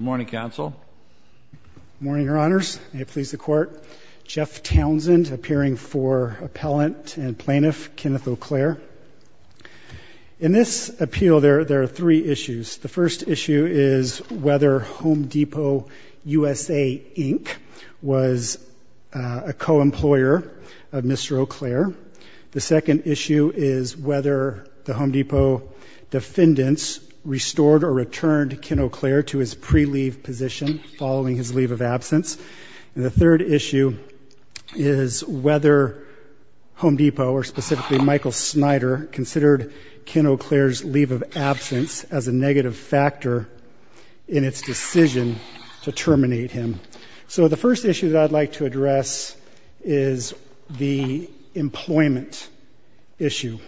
Morning, Counsel. Morning, Your Honors. May it please the Court. Jeff Townsend, appearing for Appellant and Plaintiff, Kenneth Eau Claire. In this appeal, there are three issues. The first issue is whether Home Depot USA, Inc. was a co-employer of Mr. Eau Claire. The second issue is whether the Home Depot defendants restored or returned Ken Eau Claire to his pre-leave position following his leave of absence. And the third issue is whether Home Depot, or specifically Michael Snyder, considered Ken Eau Claire's leave of absence as a negative factor in its decision to terminate him. So the first issue that I'd like to address is the employment issue.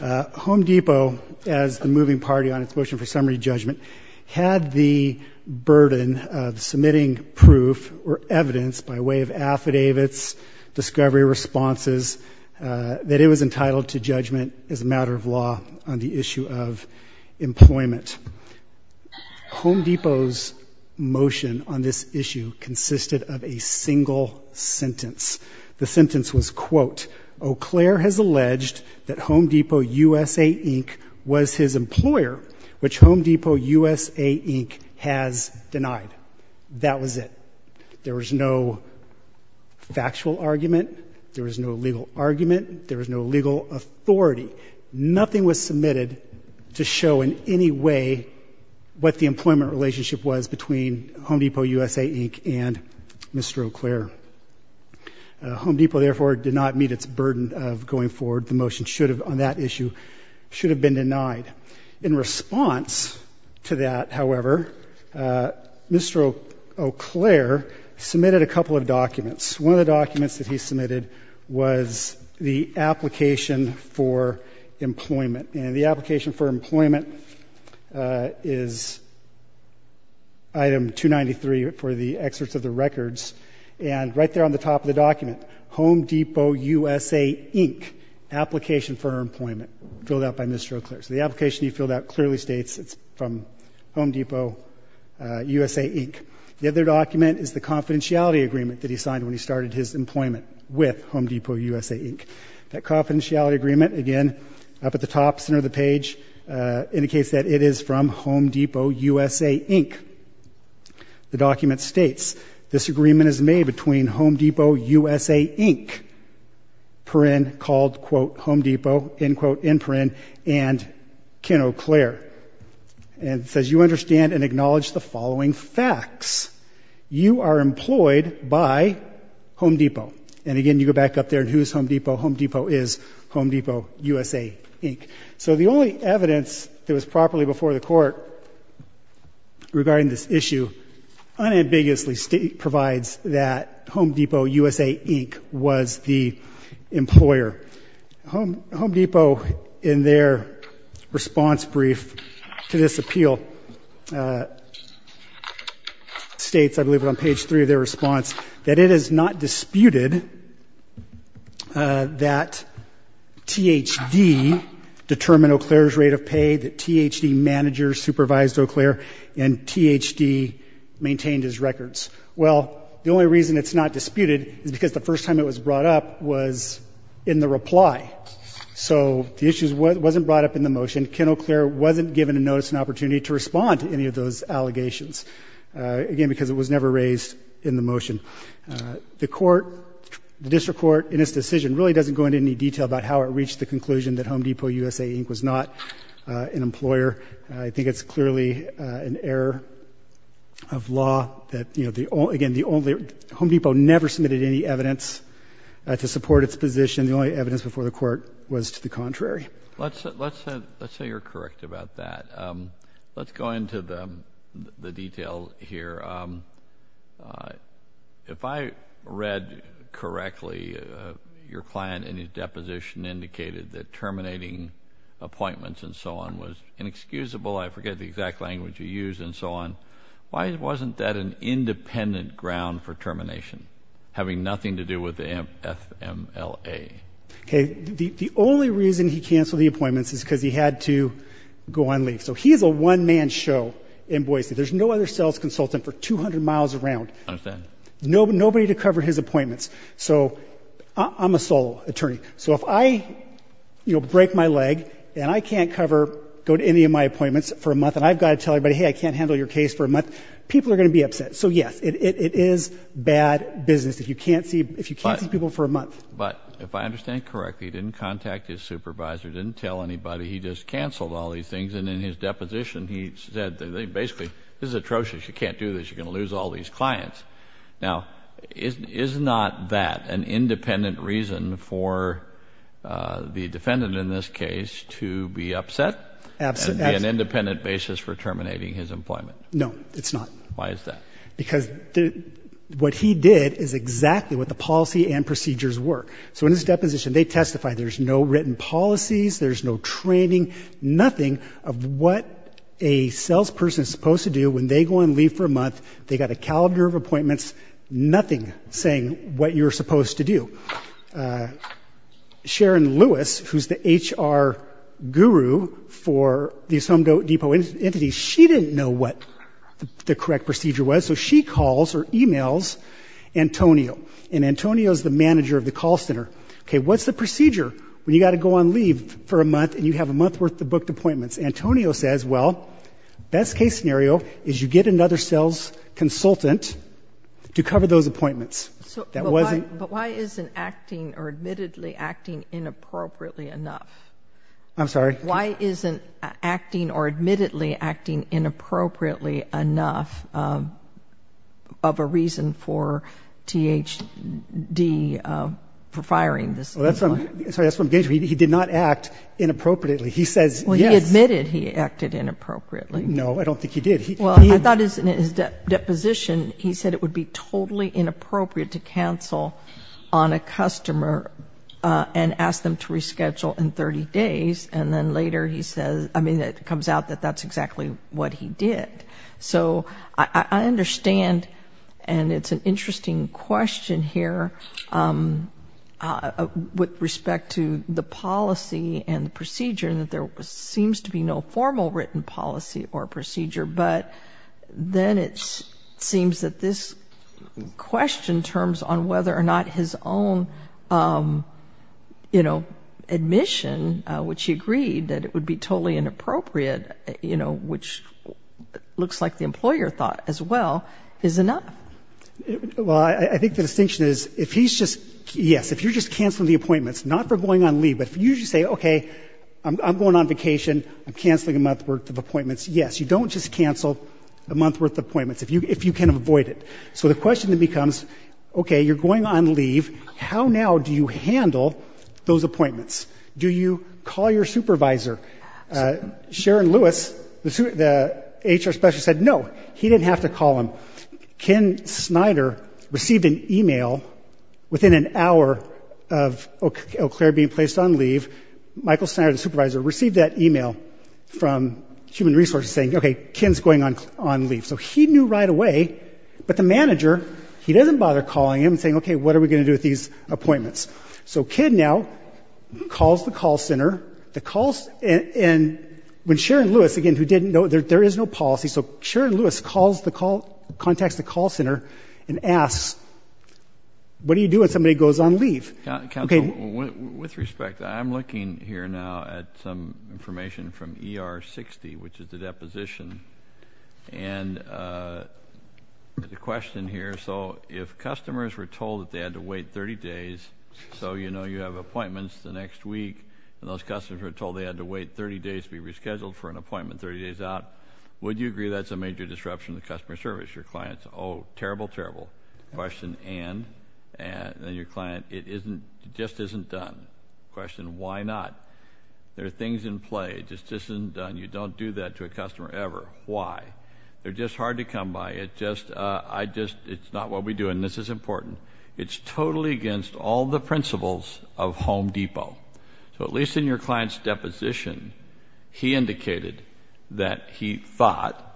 Home Depot, as the moving party on its motion for summary judgment, had the burden of submitting proof or evidence by way of affidavits, discovery responses, that it was entitled to judgment as a matter of law on the issue of employment. Home Depot's motion on this issue consisted of a single sentence. The sentence was, quote, Eau Claire has alleged that Home Depot USA, Inc. was his employer, which Home Depot USA, Inc. has denied. That was it. There was no factual argument. There was no legal argument. There was no legal authority. Nothing was submitted to show in any way what the and Mr. Eau Claire. Home Depot, therefore, did not meet its burden of going forward. The motion should have, on that issue, should have been denied. In response to that, however, Mr. Eau Claire submitted a couple of documents. One of the documents that he submitted was the application for employment. And the application for of the records. And right there on the top of the document, Home Depot USA, Inc., application for employment, filled out by Mr. Eau Claire. So the application he filled out clearly states it's from Home Depot USA, Inc. The other document is the confidentiality agreement that he signed when he started his employment with Home Depot USA, Inc. That confidentiality agreement, again, up at the top center of page, indicates that it is from Home Depot USA, Inc. The document states, this agreement is made between Home Depot USA, Inc., per in, called, quote, Home Depot, end quote, end per in, and Ken Eau Claire. And it says, you understand and acknowledge the following facts. You are employed by Home Depot. And again, you go back up there and who's Home Depot? Home Depot is Home Depot USA, Inc. So the only evidence that was properly before the court regarding this issue unambiguously provides that Home Depot USA, Inc. was the employer. Home, Home Depot, in their response brief to this appeal, states, I believe it on page three of their response, that it is not disputed that THD determined Eau Claire's rate of pay, that THD managers supervised Eau Claire, and THD maintained his records. Well, the only reason it's not disputed is because the first time it was brought up was in the reply. So the issue wasn't brought up in the motion. Ken Eau Claire wasn't given a notice and opportunity to respond to any of those allegations. Again, because it was never raised in the motion. The court, the district court, in its decision, really doesn't go into any detail about how it reached the conclusion that Home Depot USA, Inc. was not an employer. I think it's clearly an error of law that, you know, the only, again, the only, Home Depot never submitted any evidence to support its position. The only evidence before the court was to the Let's go into the detail here. If I read correctly, your client in his deposition indicated that terminating appointments and so on was inexcusable. I forget the exact language you used and so on. Why wasn't that an independent ground for termination, having nothing to do with the FMLA? Okay, the only reason he canceled the appointments is because he had to go on leave. So he is a one-man show in Boise. There's no other sales consultant for 200 miles around. Understand. Nobody to cover his appointments. So I'm a sole attorney. So if I, you know, break my leg and I can't cover, go to any of my appointments for a month and I've got to tell everybody, hey, I can't handle your case for a month, people are going to be upset. So yes, it is bad business if you can't see, if you can't see people for a month. But if I understand correctly, he didn't contact his supervisor, didn't tell anybody. He just canceled all these things. And in his deposition, he said that they basically this is atrocious. You can't do this. You're going to lose all these clients. Now, is, is not that an independent reason for, uh, the defendant in this case to be upset? Absolutely. An independent basis for terminating his employment? No, it's not. Why is that? Because what he did is exactly what the policy and procedures work. So in his deposition, they testify there's no written policies, there's no training, nothing of what a salesperson is supposed to do when they go and leave for a month. They got a calendar of appointments, nothing saying what you're supposed to do. Uh, Sharon Lewis, who's the HR guru for these Home Depot entities, she didn't know what the correct procedure was. So she calls or emails Antonio. And Antonio's the manager of the call center. Okay, what's the procedure when you got to go on leave for a month and you have a month worth of booked appointments? Antonio says, well, best case scenario is you get another sales consultant to cover those appointments. So that wasn't But why isn't acting or admittedly acting inappropriately enough? I'm sorry? Why isn't acting or admittedly acting inappropriately enough of a reason for THD for firing this consultant? He did not act inappropriately. He says, yes. Well, he admitted he acted inappropriately. No, I don't think he did. Well, I thought in his deposition, he said it would be totally later, he says, I mean, it comes out that that's exactly what he did. So I understand and it's an interesting question here with respect to the policy and procedure and that there seems to be no formal written policy or procedure. But then it seems that this question, in terms on whether or not his own, you know, admission, which he agreed that it would be totally inappropriate, you know, which looks like the employer thought as well, is enough. Well, I think the distinction is if he's just, yes, if you're just canceling the appointments, not for going on leave, but if you just say, okay, I'm going on vacation, I'm canceling a month's worth of appointments, yes, you don't just cancel a month's worth of appointments if you can avoid it. So the question then becomes, okay, you're going on leave, how now do you handle those appointments? Do you call your supervisor? Sharon Lewis, the HR specialist, said no, he didn't have to call him. Ken Snyder received an email within an hour of Eau Claire being placed on leave, Michael Snyder, the supervisor, received that email from Human Resources saying, okay, Ken's going on leave. So he knew right away, but the manager, he doesn't bother calling him and saying, okay, what are we going to do with these appointments? So Ken now calls the call center, and when Sharon Lewis, again, who didn't know, there is no policy, so Sharon Lewis contacts the call center and asks, what do you do when somebody goes on leave? Counsel, with respect, I'm looking here now at some information from ER 60, which is the deposition, and the question here, so if customers were told that they had to wait 30 days, so you know you have appointments the next week, and those customers were told they had to wait 30 days to be rescheduled for an appointment 30 days out, would you agree that's a major disruption to customer service? Your client's, oh, terrible, terrible, question, and then your client, it isn't, it just isn't done, question, why not? There are things in play, it just isn't done, you don't do that to a customer ever, why? They're just hard to come by, it's just, I just, it's not what we do, and this is important, it's totally against all the principles of Home Depot. So at least in your client's deposition, he indicated that he thought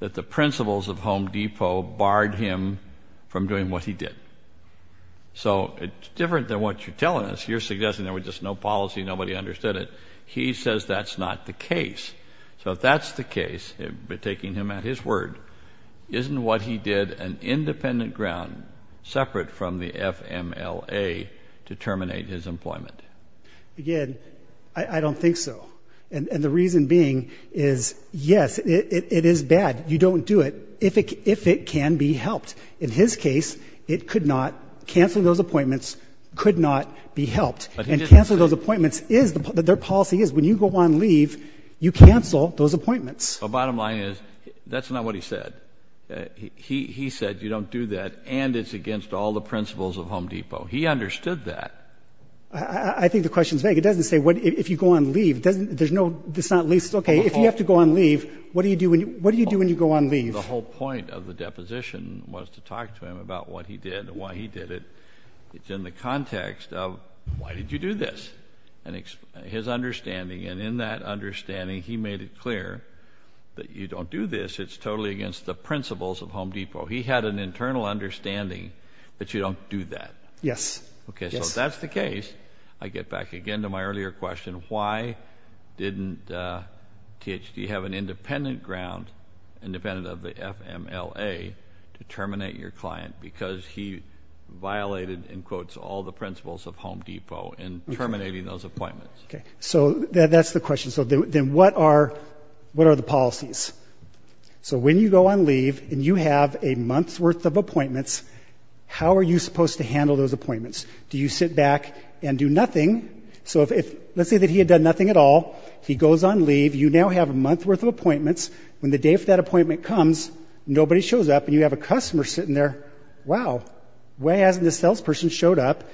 that the principles of Home Depot barred him from doing what he did. So it's different than what you're telling us, you're suggesting there was just no policy, nobody understood it, he says that's not the case. So if that's the case, taking him at his word, isn't what he did an independent ground, separate from the FMLA to terminate his employment. Again, I don't think so, and the reason being is, yes, it is bad, you don't do it, if it can be helped. In his case, it could not, canceling those appointments could not be helped, and canceling those appointments is, their policy is, when you go on leave, you cancel those appointments. The bottom line is, that's not what he said. He said you don't do that, and it's against all the principles of Home Depot. He understood that. I think the question is vague, it doesn't say, if you go on leave, there's no, it's not at least, okay, if you have to go on leave, what do you do when you go on leave? The whole point of the deposition was to talk to him about what he did, why he did it. It's in the context of, why did you do this? And his understanding, and in that understanding, he made it clear that you don't do this, it's totally against the principles of Home Depot. He had an internal understanding, that you don't do that. Yes. Okay, so if that's the case, I get back again to my earlier question, why didn't THD have an independent ground, independent of the FMLA, to terminate your client? Because he violated, in quotes, all the principles of Home Depot, in terminating those appointments. Okay, so that's the question, so then what are, what are the policies? So when you go on leave, and you have a month's worth of appointments, how are you supposed to handle those appointments? Do you sit back and do nothing? So if, let's say that he had done nothing at all, he goes on leave, you now have a month's worth of appointments, when the day of that appointment comes, nobody shows up, and you have a customer sitting there, wow, why hasn't this salesperson showed up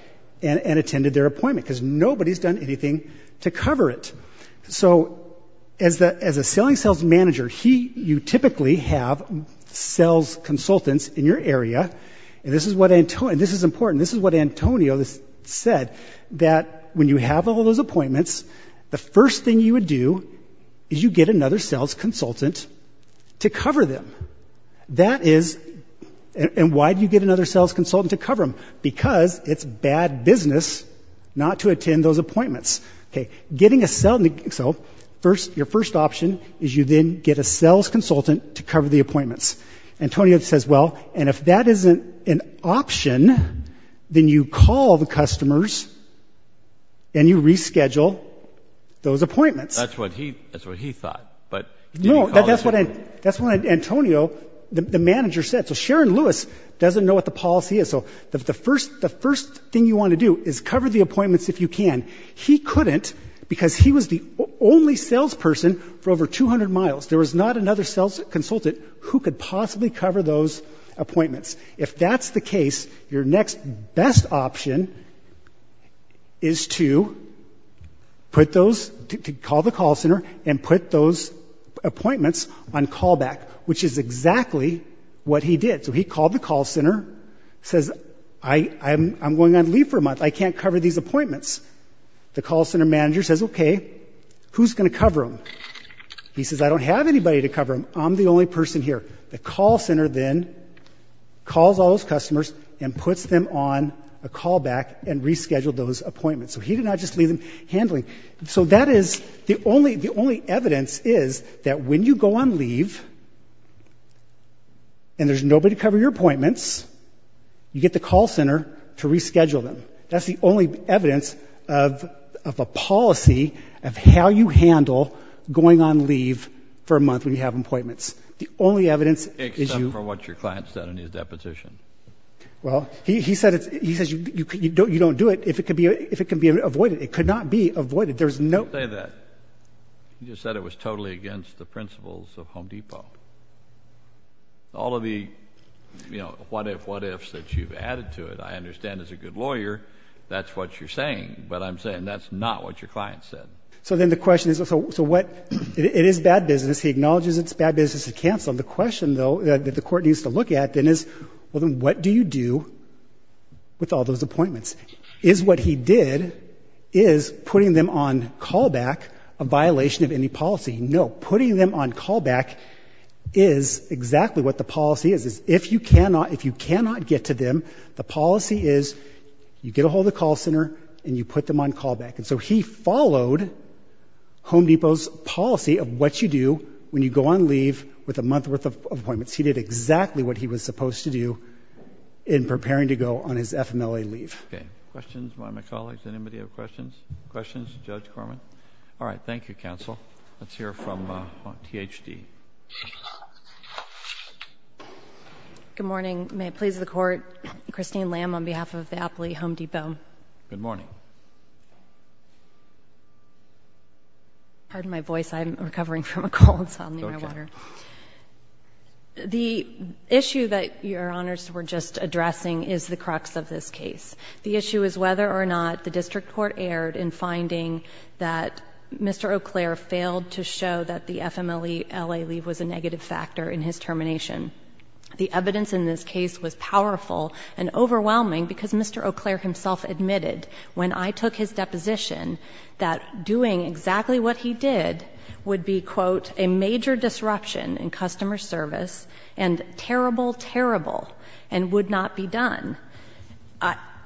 and attended their appointment? Because nobody's done anything to cover it. So, as a selling sales manager, he, you typically have sales consultants in your area, and this is what Antonio, this is important, this is what Antonio said, that when you have all those appointments, the first thing you would do is you get another sales consultant to cover them. That is, and why do you get another sales consultant to cover them? Because it's bad business not to attend those appointments. Okay, getting a sales, so, first, your first option is you then get a sales consultant to cover the appointments. Antonio says, well, and if that isn't an option, then you call the customers, and you reschedule those appointments. That's what he, that's what he thought, but No, that's what, that's what Antonio, the manager said. So Sharon Lewis doesn't know what the policy is, so the first, the first thing you want to do is cover the appointments if you can. He couldn't, because he was the only salesperson for over 200 miles. There was not another sales consultant who could possibly cover those appointments. If that's the case, your next best option is to put those, to call the call center, and put those appointments on callback, which is exactly what he did. So he called the call center, says, I, I'm, I'm going on leave for a month, I can't cover these appointments. The call center manager says, okay, who's going to cover them? He says, I don't have anybody to cover them, I'm the only person here. The call center then calls all those customers and puts them on a callback and rescheduled those appointments. So he did not just leave them handling. So that is the only, the only evidence is that when you go on leave, and there's nobody to cover your appointments, you get the call center to reschedule them. That's the only evidence of, of a policy of how you handle going on leave for a month when you have appointments. The only evidence is you. Except for what your client said in his deposition. Well, he, he said it's, he says you, you don't, you don't do it if it could be, if it can be avoided. It could not be avoided. There's no. Don't say that. He you know, what if, what ifs that you've added to it. I understand as a good lawyer, that's what you're saying, but I'm saying that's not what your client said. So then the question is, so, so what, it is bad business. He acknowledges it's bad business to cancel. The question though that the court needs to look at then is, well then what do you do with all those appointments? Is what he did, is putting them on callback a violation of any policy? No. Putting them on callback is exactly what the policy is. If you cannot, if you cannot get to them, the policy is you get a hold of the call center and you put them on callback. And so he followed Home Depot's policy of what you do when you go on leave with a month's worth of appointments. He did exactly what he was supposed to do in preparing to go on his FMLA leave. Okay. Questions by my colleagues? Anybody have questions? Questions? Judge Corman? All right. Thank you, counsel. Let's hear from THD. Good morning. May it please the court, Christine Lamb on behalf of the Apley Home Depot. Good morning. Pardon my voice, I'm recovering from a cold, so I'll need my water. The issue that your honors were just addressing is the crux of this case. The issue is whether or not the district court erred in finding that Mr. Eau Claire failed to show that the FMLA leave was a negative factor in his termination. The evidence in this case was powerful and overwhelming because Mr. Eau Claire himself admitted, when I took his deposition, that doing exactly what he did would be, quote, a major disruption in customer service and terrible, terrible, and would not be done.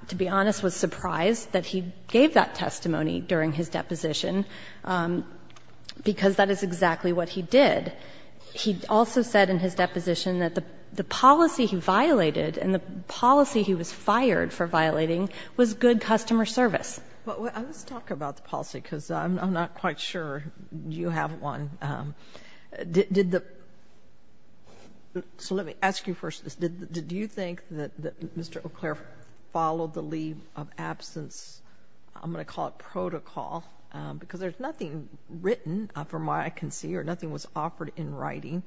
To be honest, I was surprised that he gave that testimony during his deposition, because that is exactly what he did. He also said in his deposition that the policy he violated and the policy he was fired for violating was good customer service. But let's talk about the policy, because I'm not quite sure you have one. Did the So let me ask you first, did you think that Mr. Eau Claire followed the leave of absence? I'm going to call it protocol, because there's nothing written from what I can see or nothing was offered in writing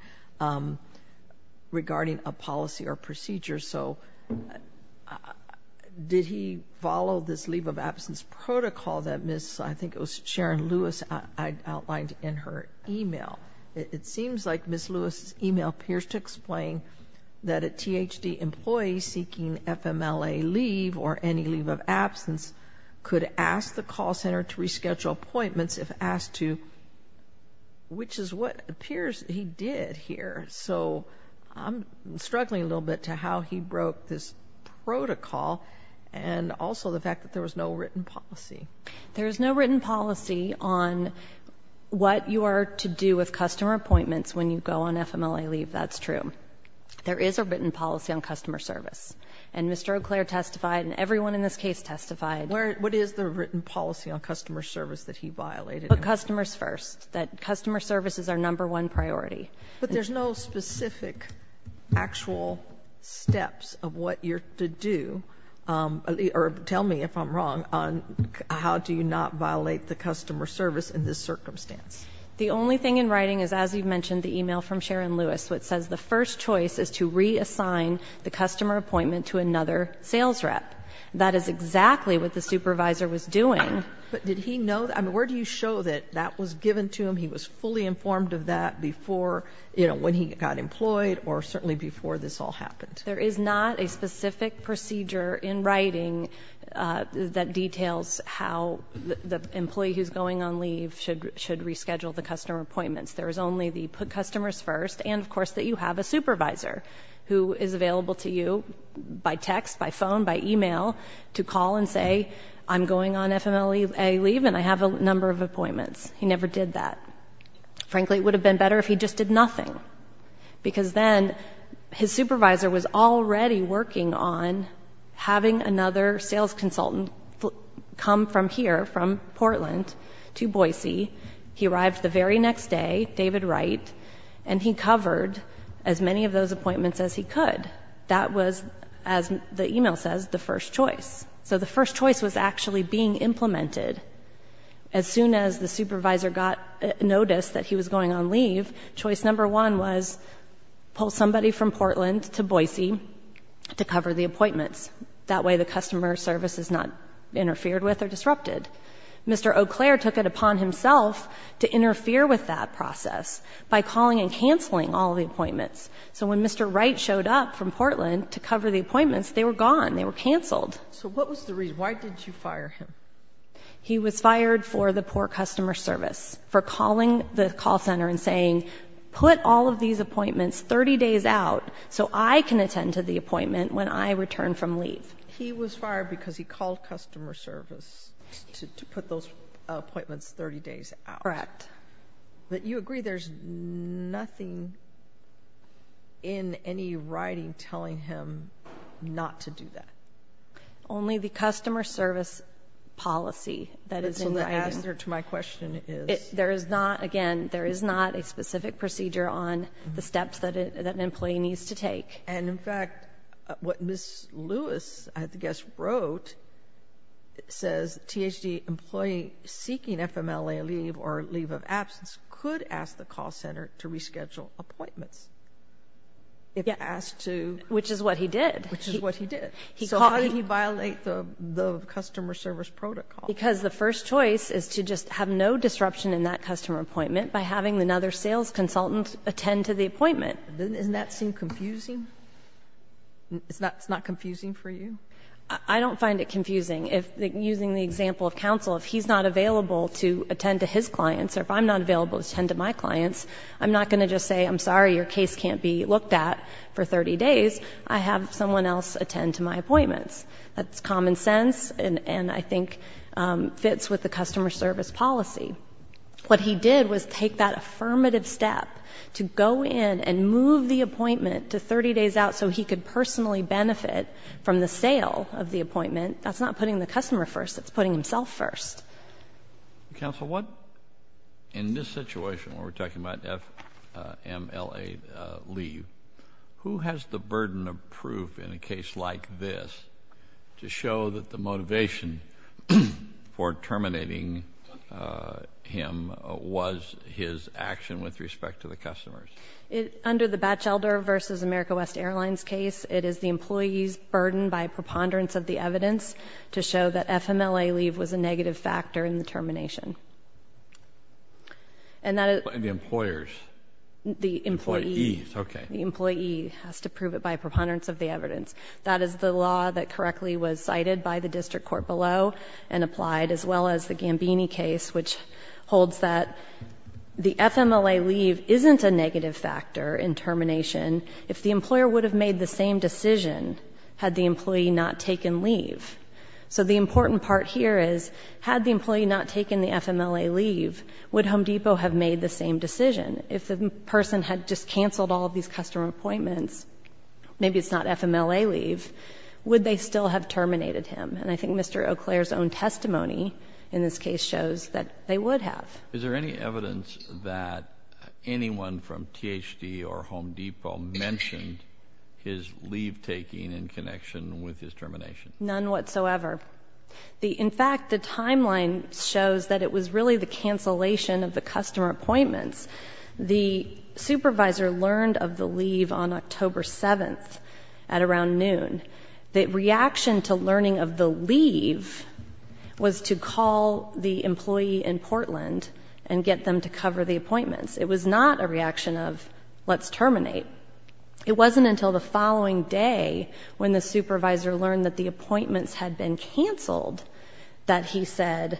regarding a policy or procedure. So did he follow this leave of absence protocol that Miss, I think it was Sharon Lewis, I outlined in her email? It seems like Miss Lewis' email appears to explain that a THD employee seeking FMLA leave or any leave of absence could ask the call center to reschedule appointments if asked to, which is what appears he did here. So I'm struggling a little bit to how he broke this protocol and also the fact that there was no written policy. There is no written policy on what you are to do with customer appointments when you go on FMLA leave, that's true. There is a written policy on customer service, and Mr. Eau Claire testified and everyone in this case testified. What is the written policy on customer service that he violated? Customers first, that customer service is our number one priority. But there's no specific actual steps of what you're to do, or tell me if I'm wrong, on how do you not violate the customer service in this circumstance? The only thing in writing is, as you mentioned, the email from Sharon Lewis, which says the first choice is to reassign the customer appointment to another sales rep. That is exactly what the supervisor was doing. But did he know, I mean, where do you show that that was given to him? He was fully informed of that before, you know, when he got employed or certainly before this all happened. There is not a specific procedure in writing that details how the employee who's going on leave should reschedule the customer appointments. There is only the put customers first, and of course that you have a supervisor who is available to you by text, by phone, by email to call and say I'm going on FMLA leave and I have a number of appointments. He never did that. Frankly, it would have been better if he just did nothing, because then his supervisor was already working on having another sales consultant come from here, from Portland, to Boise. He arrived the very next day, David Wright, and he covered as many of those appointments as he could. That was, as the email says, the first choice. So the first choice was actually being implemented. As soon as the supervisor got notice that he was going on leave, choice number one was pull somebody from Portland to Boise to cover the appointments. That way the customer service is not interfered with or disrupted. Mr. Eau Claire took it upon himself to interfere with that process by calling and canceling all the appointments. So when Mr. Wright showed up from Portland to cover the appointments, they were gone. They were canceled. So what was the reason? Why did you fire him? He was fired for the poor customer service, for calling the call center and saying put all of these appointments 30 days out so I can attend to the appointment when I return from leave. He was fired because he called customer service to put those appointments 30 days out. Correct. But you agree there's nothing in any writing telling him not to do that? Only the customer service policy that is in the item. So the answer to my question is? There is not, again, there is not a specific procedure on the steps that an employee needs to take. And, in fact, what Ms. Lewis, I guess, wrote says THD employee seeking FMLA leave or leave of absence could ask the call center to reschedule appointments if asked to. Which is what he did. Which is what he did. So how did he violate the customer service protocol? Because the first choice is to just have no disruption in that customer appointment by having another sales consultant attend to the appointment. Doesn't that seem confusing? It's not confusing for you? I don't find it confusing. Using the example of counsel, if he's not available to attend to his clients or if I'm not available to attend to my clients, I'm not going to just say I'm sorry, your case can't be looked at for 30 days. I have someone else attend to my appointments. That's common sense and I think fits with the customer service policy. What he did was take that affirmative step to go in and move the appointment to 30 days out so he could personally benefit from the sale of the appointment. That's not putting the customer first. That's putting himself first. Counsel, what, in this situation where we're talking about FMLA leave, who has the burden of proof in a case like this to show that the motivation for terminating him was his action with respect to the customers? Under the Batchelder v. America West Airlines case, it is the employee's burden by preponderance of the evidence to show that FMLA leave was a negative factor in the termination. And the employer's? The employee. The employee, okay. The employee has to prove it by preponderance of the evidence. That is the law that correctly was cited by the district court below and applied, as well as the Gambini case, which holds that the FMLA leave isn't a negative factor in termination. If the employer would have made the same decision had the employee not taken leave. So the important part here is, had the employee not taken the FMLA leave, would Home Depot have made the same decision? If the person had just canceled all of these customer appointments, maybe it's not FMLA leave, would they still have terminated him? And I think Mr. Eau Claire's own testimony in this case shows that they would have. Is there any evidence that anyone from THD or Home Depot mentioned his leave taking in connection with his termination? None whatsoever. In fact, the timeline shows that it was really the cancellation of the customer appointments. The supervisor learned of the leave on October 7th at around noon. The reaction to learning of the leave was to call the employee in Portland and get them to cover the appointments. It was not a reaction of, let's terminate. It wasn't until the following day when the supervisor learned that the appointments had been canceled that he said,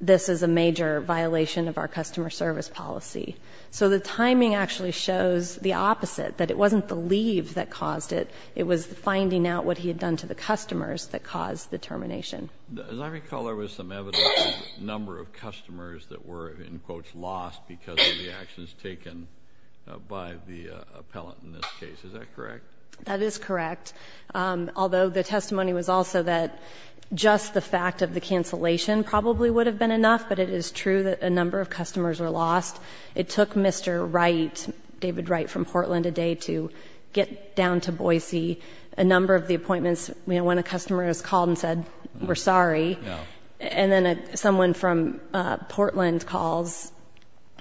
this is a major violation of our customer service policy. So the timing actually shows the opposite, that it wasn't the leave that caused it. It was the finding out what he had done to the customers that caused the termination. As I recall, there was some evidence of a number of customers that were in quotes lost because of the actions taken by the appellant in this case, is that correct? That is correct. Although the testimony was also that just the fact of the cancellation probably would have been enough, but it is true that a number of customers were lost. It took Mr. Wright, David Wright from Portland, a day to get down to Boise. A number of the appointments, when a customer has called and said, we're sorry, and then someone from Portland calls,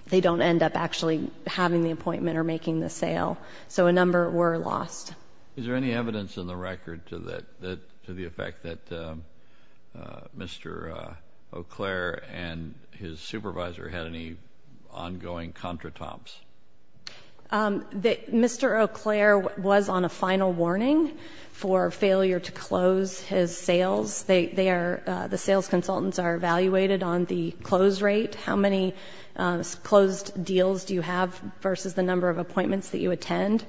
they don't end up actually having the appointment or making the sale. So a number were lost. Is there any evidence in the record to the effect that Mr. Eau Claire and his supervisor had any ongoing contra-tomps? Mr. Eau Claire was on a final warning for failure to close his sales. The sales consultants are evaluated on the close rate, how many closed deals do you have versus the number of appointments that you attend.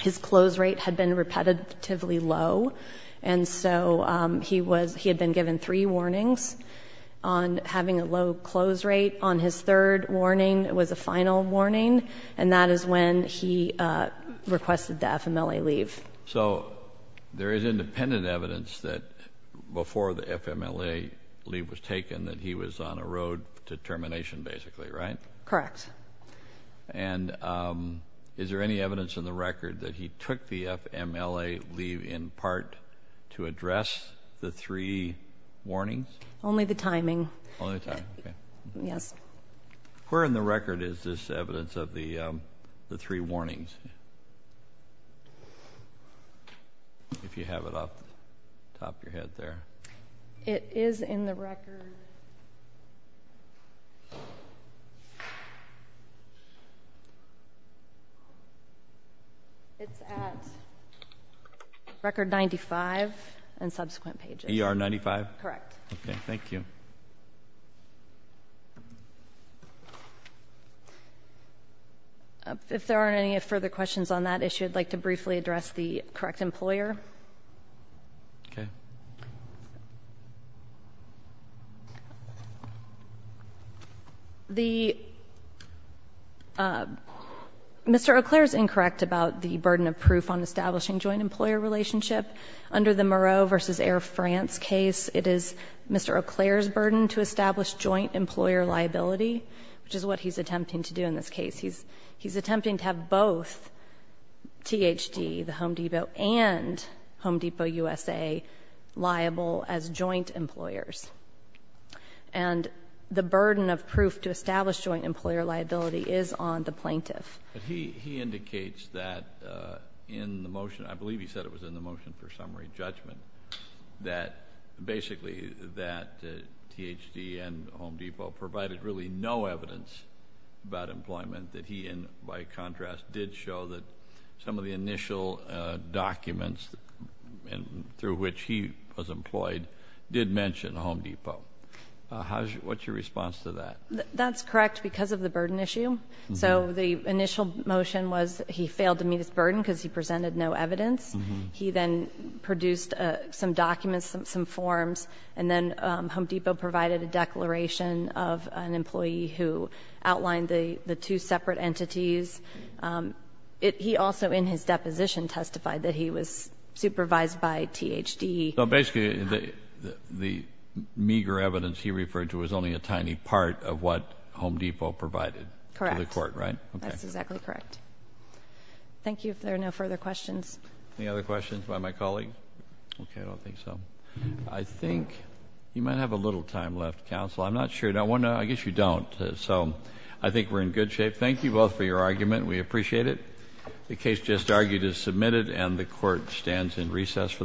His close rate had been repetitively low, and so he had been given three warnings on having a low close rate. On his third warning, it was a final warning, and that is when he requested the FMLA leave. So there is independent evidence that before the FMLA leave was taken that he was on a road to termination, basically, right? Correct. And is there any evidence in the record that he took the FMLA leave in part to address the three warnings? Only the timing. Only the timing, okay. Yes. Where in the record is this evidence of the three warnings? If you have it off the top of your head there. It is in the record. It's at record 95 and subsequent pages. ER 95? Correct. Thank you. If there aren't any further questions on that issue, I'd like to briefly address the correct employer. Okay. The Mr. Eau Claire is incorrect about the burden of proof on establishing joint employer relationship. Under the Moreau versus Air France case, it is Mr. Eau Claire's burden to establish joint employer liability, which is what he's attempting to do in this case. He's attempting to have both THD, the Home Depot, and Home Depot USA liable as joint employers. And the burden of proof to establish joint employer liability is on the plaintiff. He indicates that in the motion, I believe he said it was in the motion for summary judgment, that basically that THD and Home Depot provided really no evidence about employment that he, by contrast, did show that some of the initial documents through which he was employed did mention Home Depot. What's your response to that? That's correct because of the burden issue. So the initial motion was he failed to meet his burden because he presented no evidence. He then produced some documents, some forms, and then Home Depot provided a declaration of an employee who outlined the two separate entities. He also, in his deposition, testified that he was supervised by THD. So basically the meager evidence he referred to was only a tiny part of what Home Depot provided. Correct. To the court, right? That's exactly correct. Thank you. If there are no further questions. Any other questions by my colleague? Okay, I don't think so. I think you might have a little time left, counsel. I'm not sure. I guess you don't. So I think we're in good shape. Thank you both for your argument. We appreciate it. The case just argued is submitted and the court stands in recess for the day.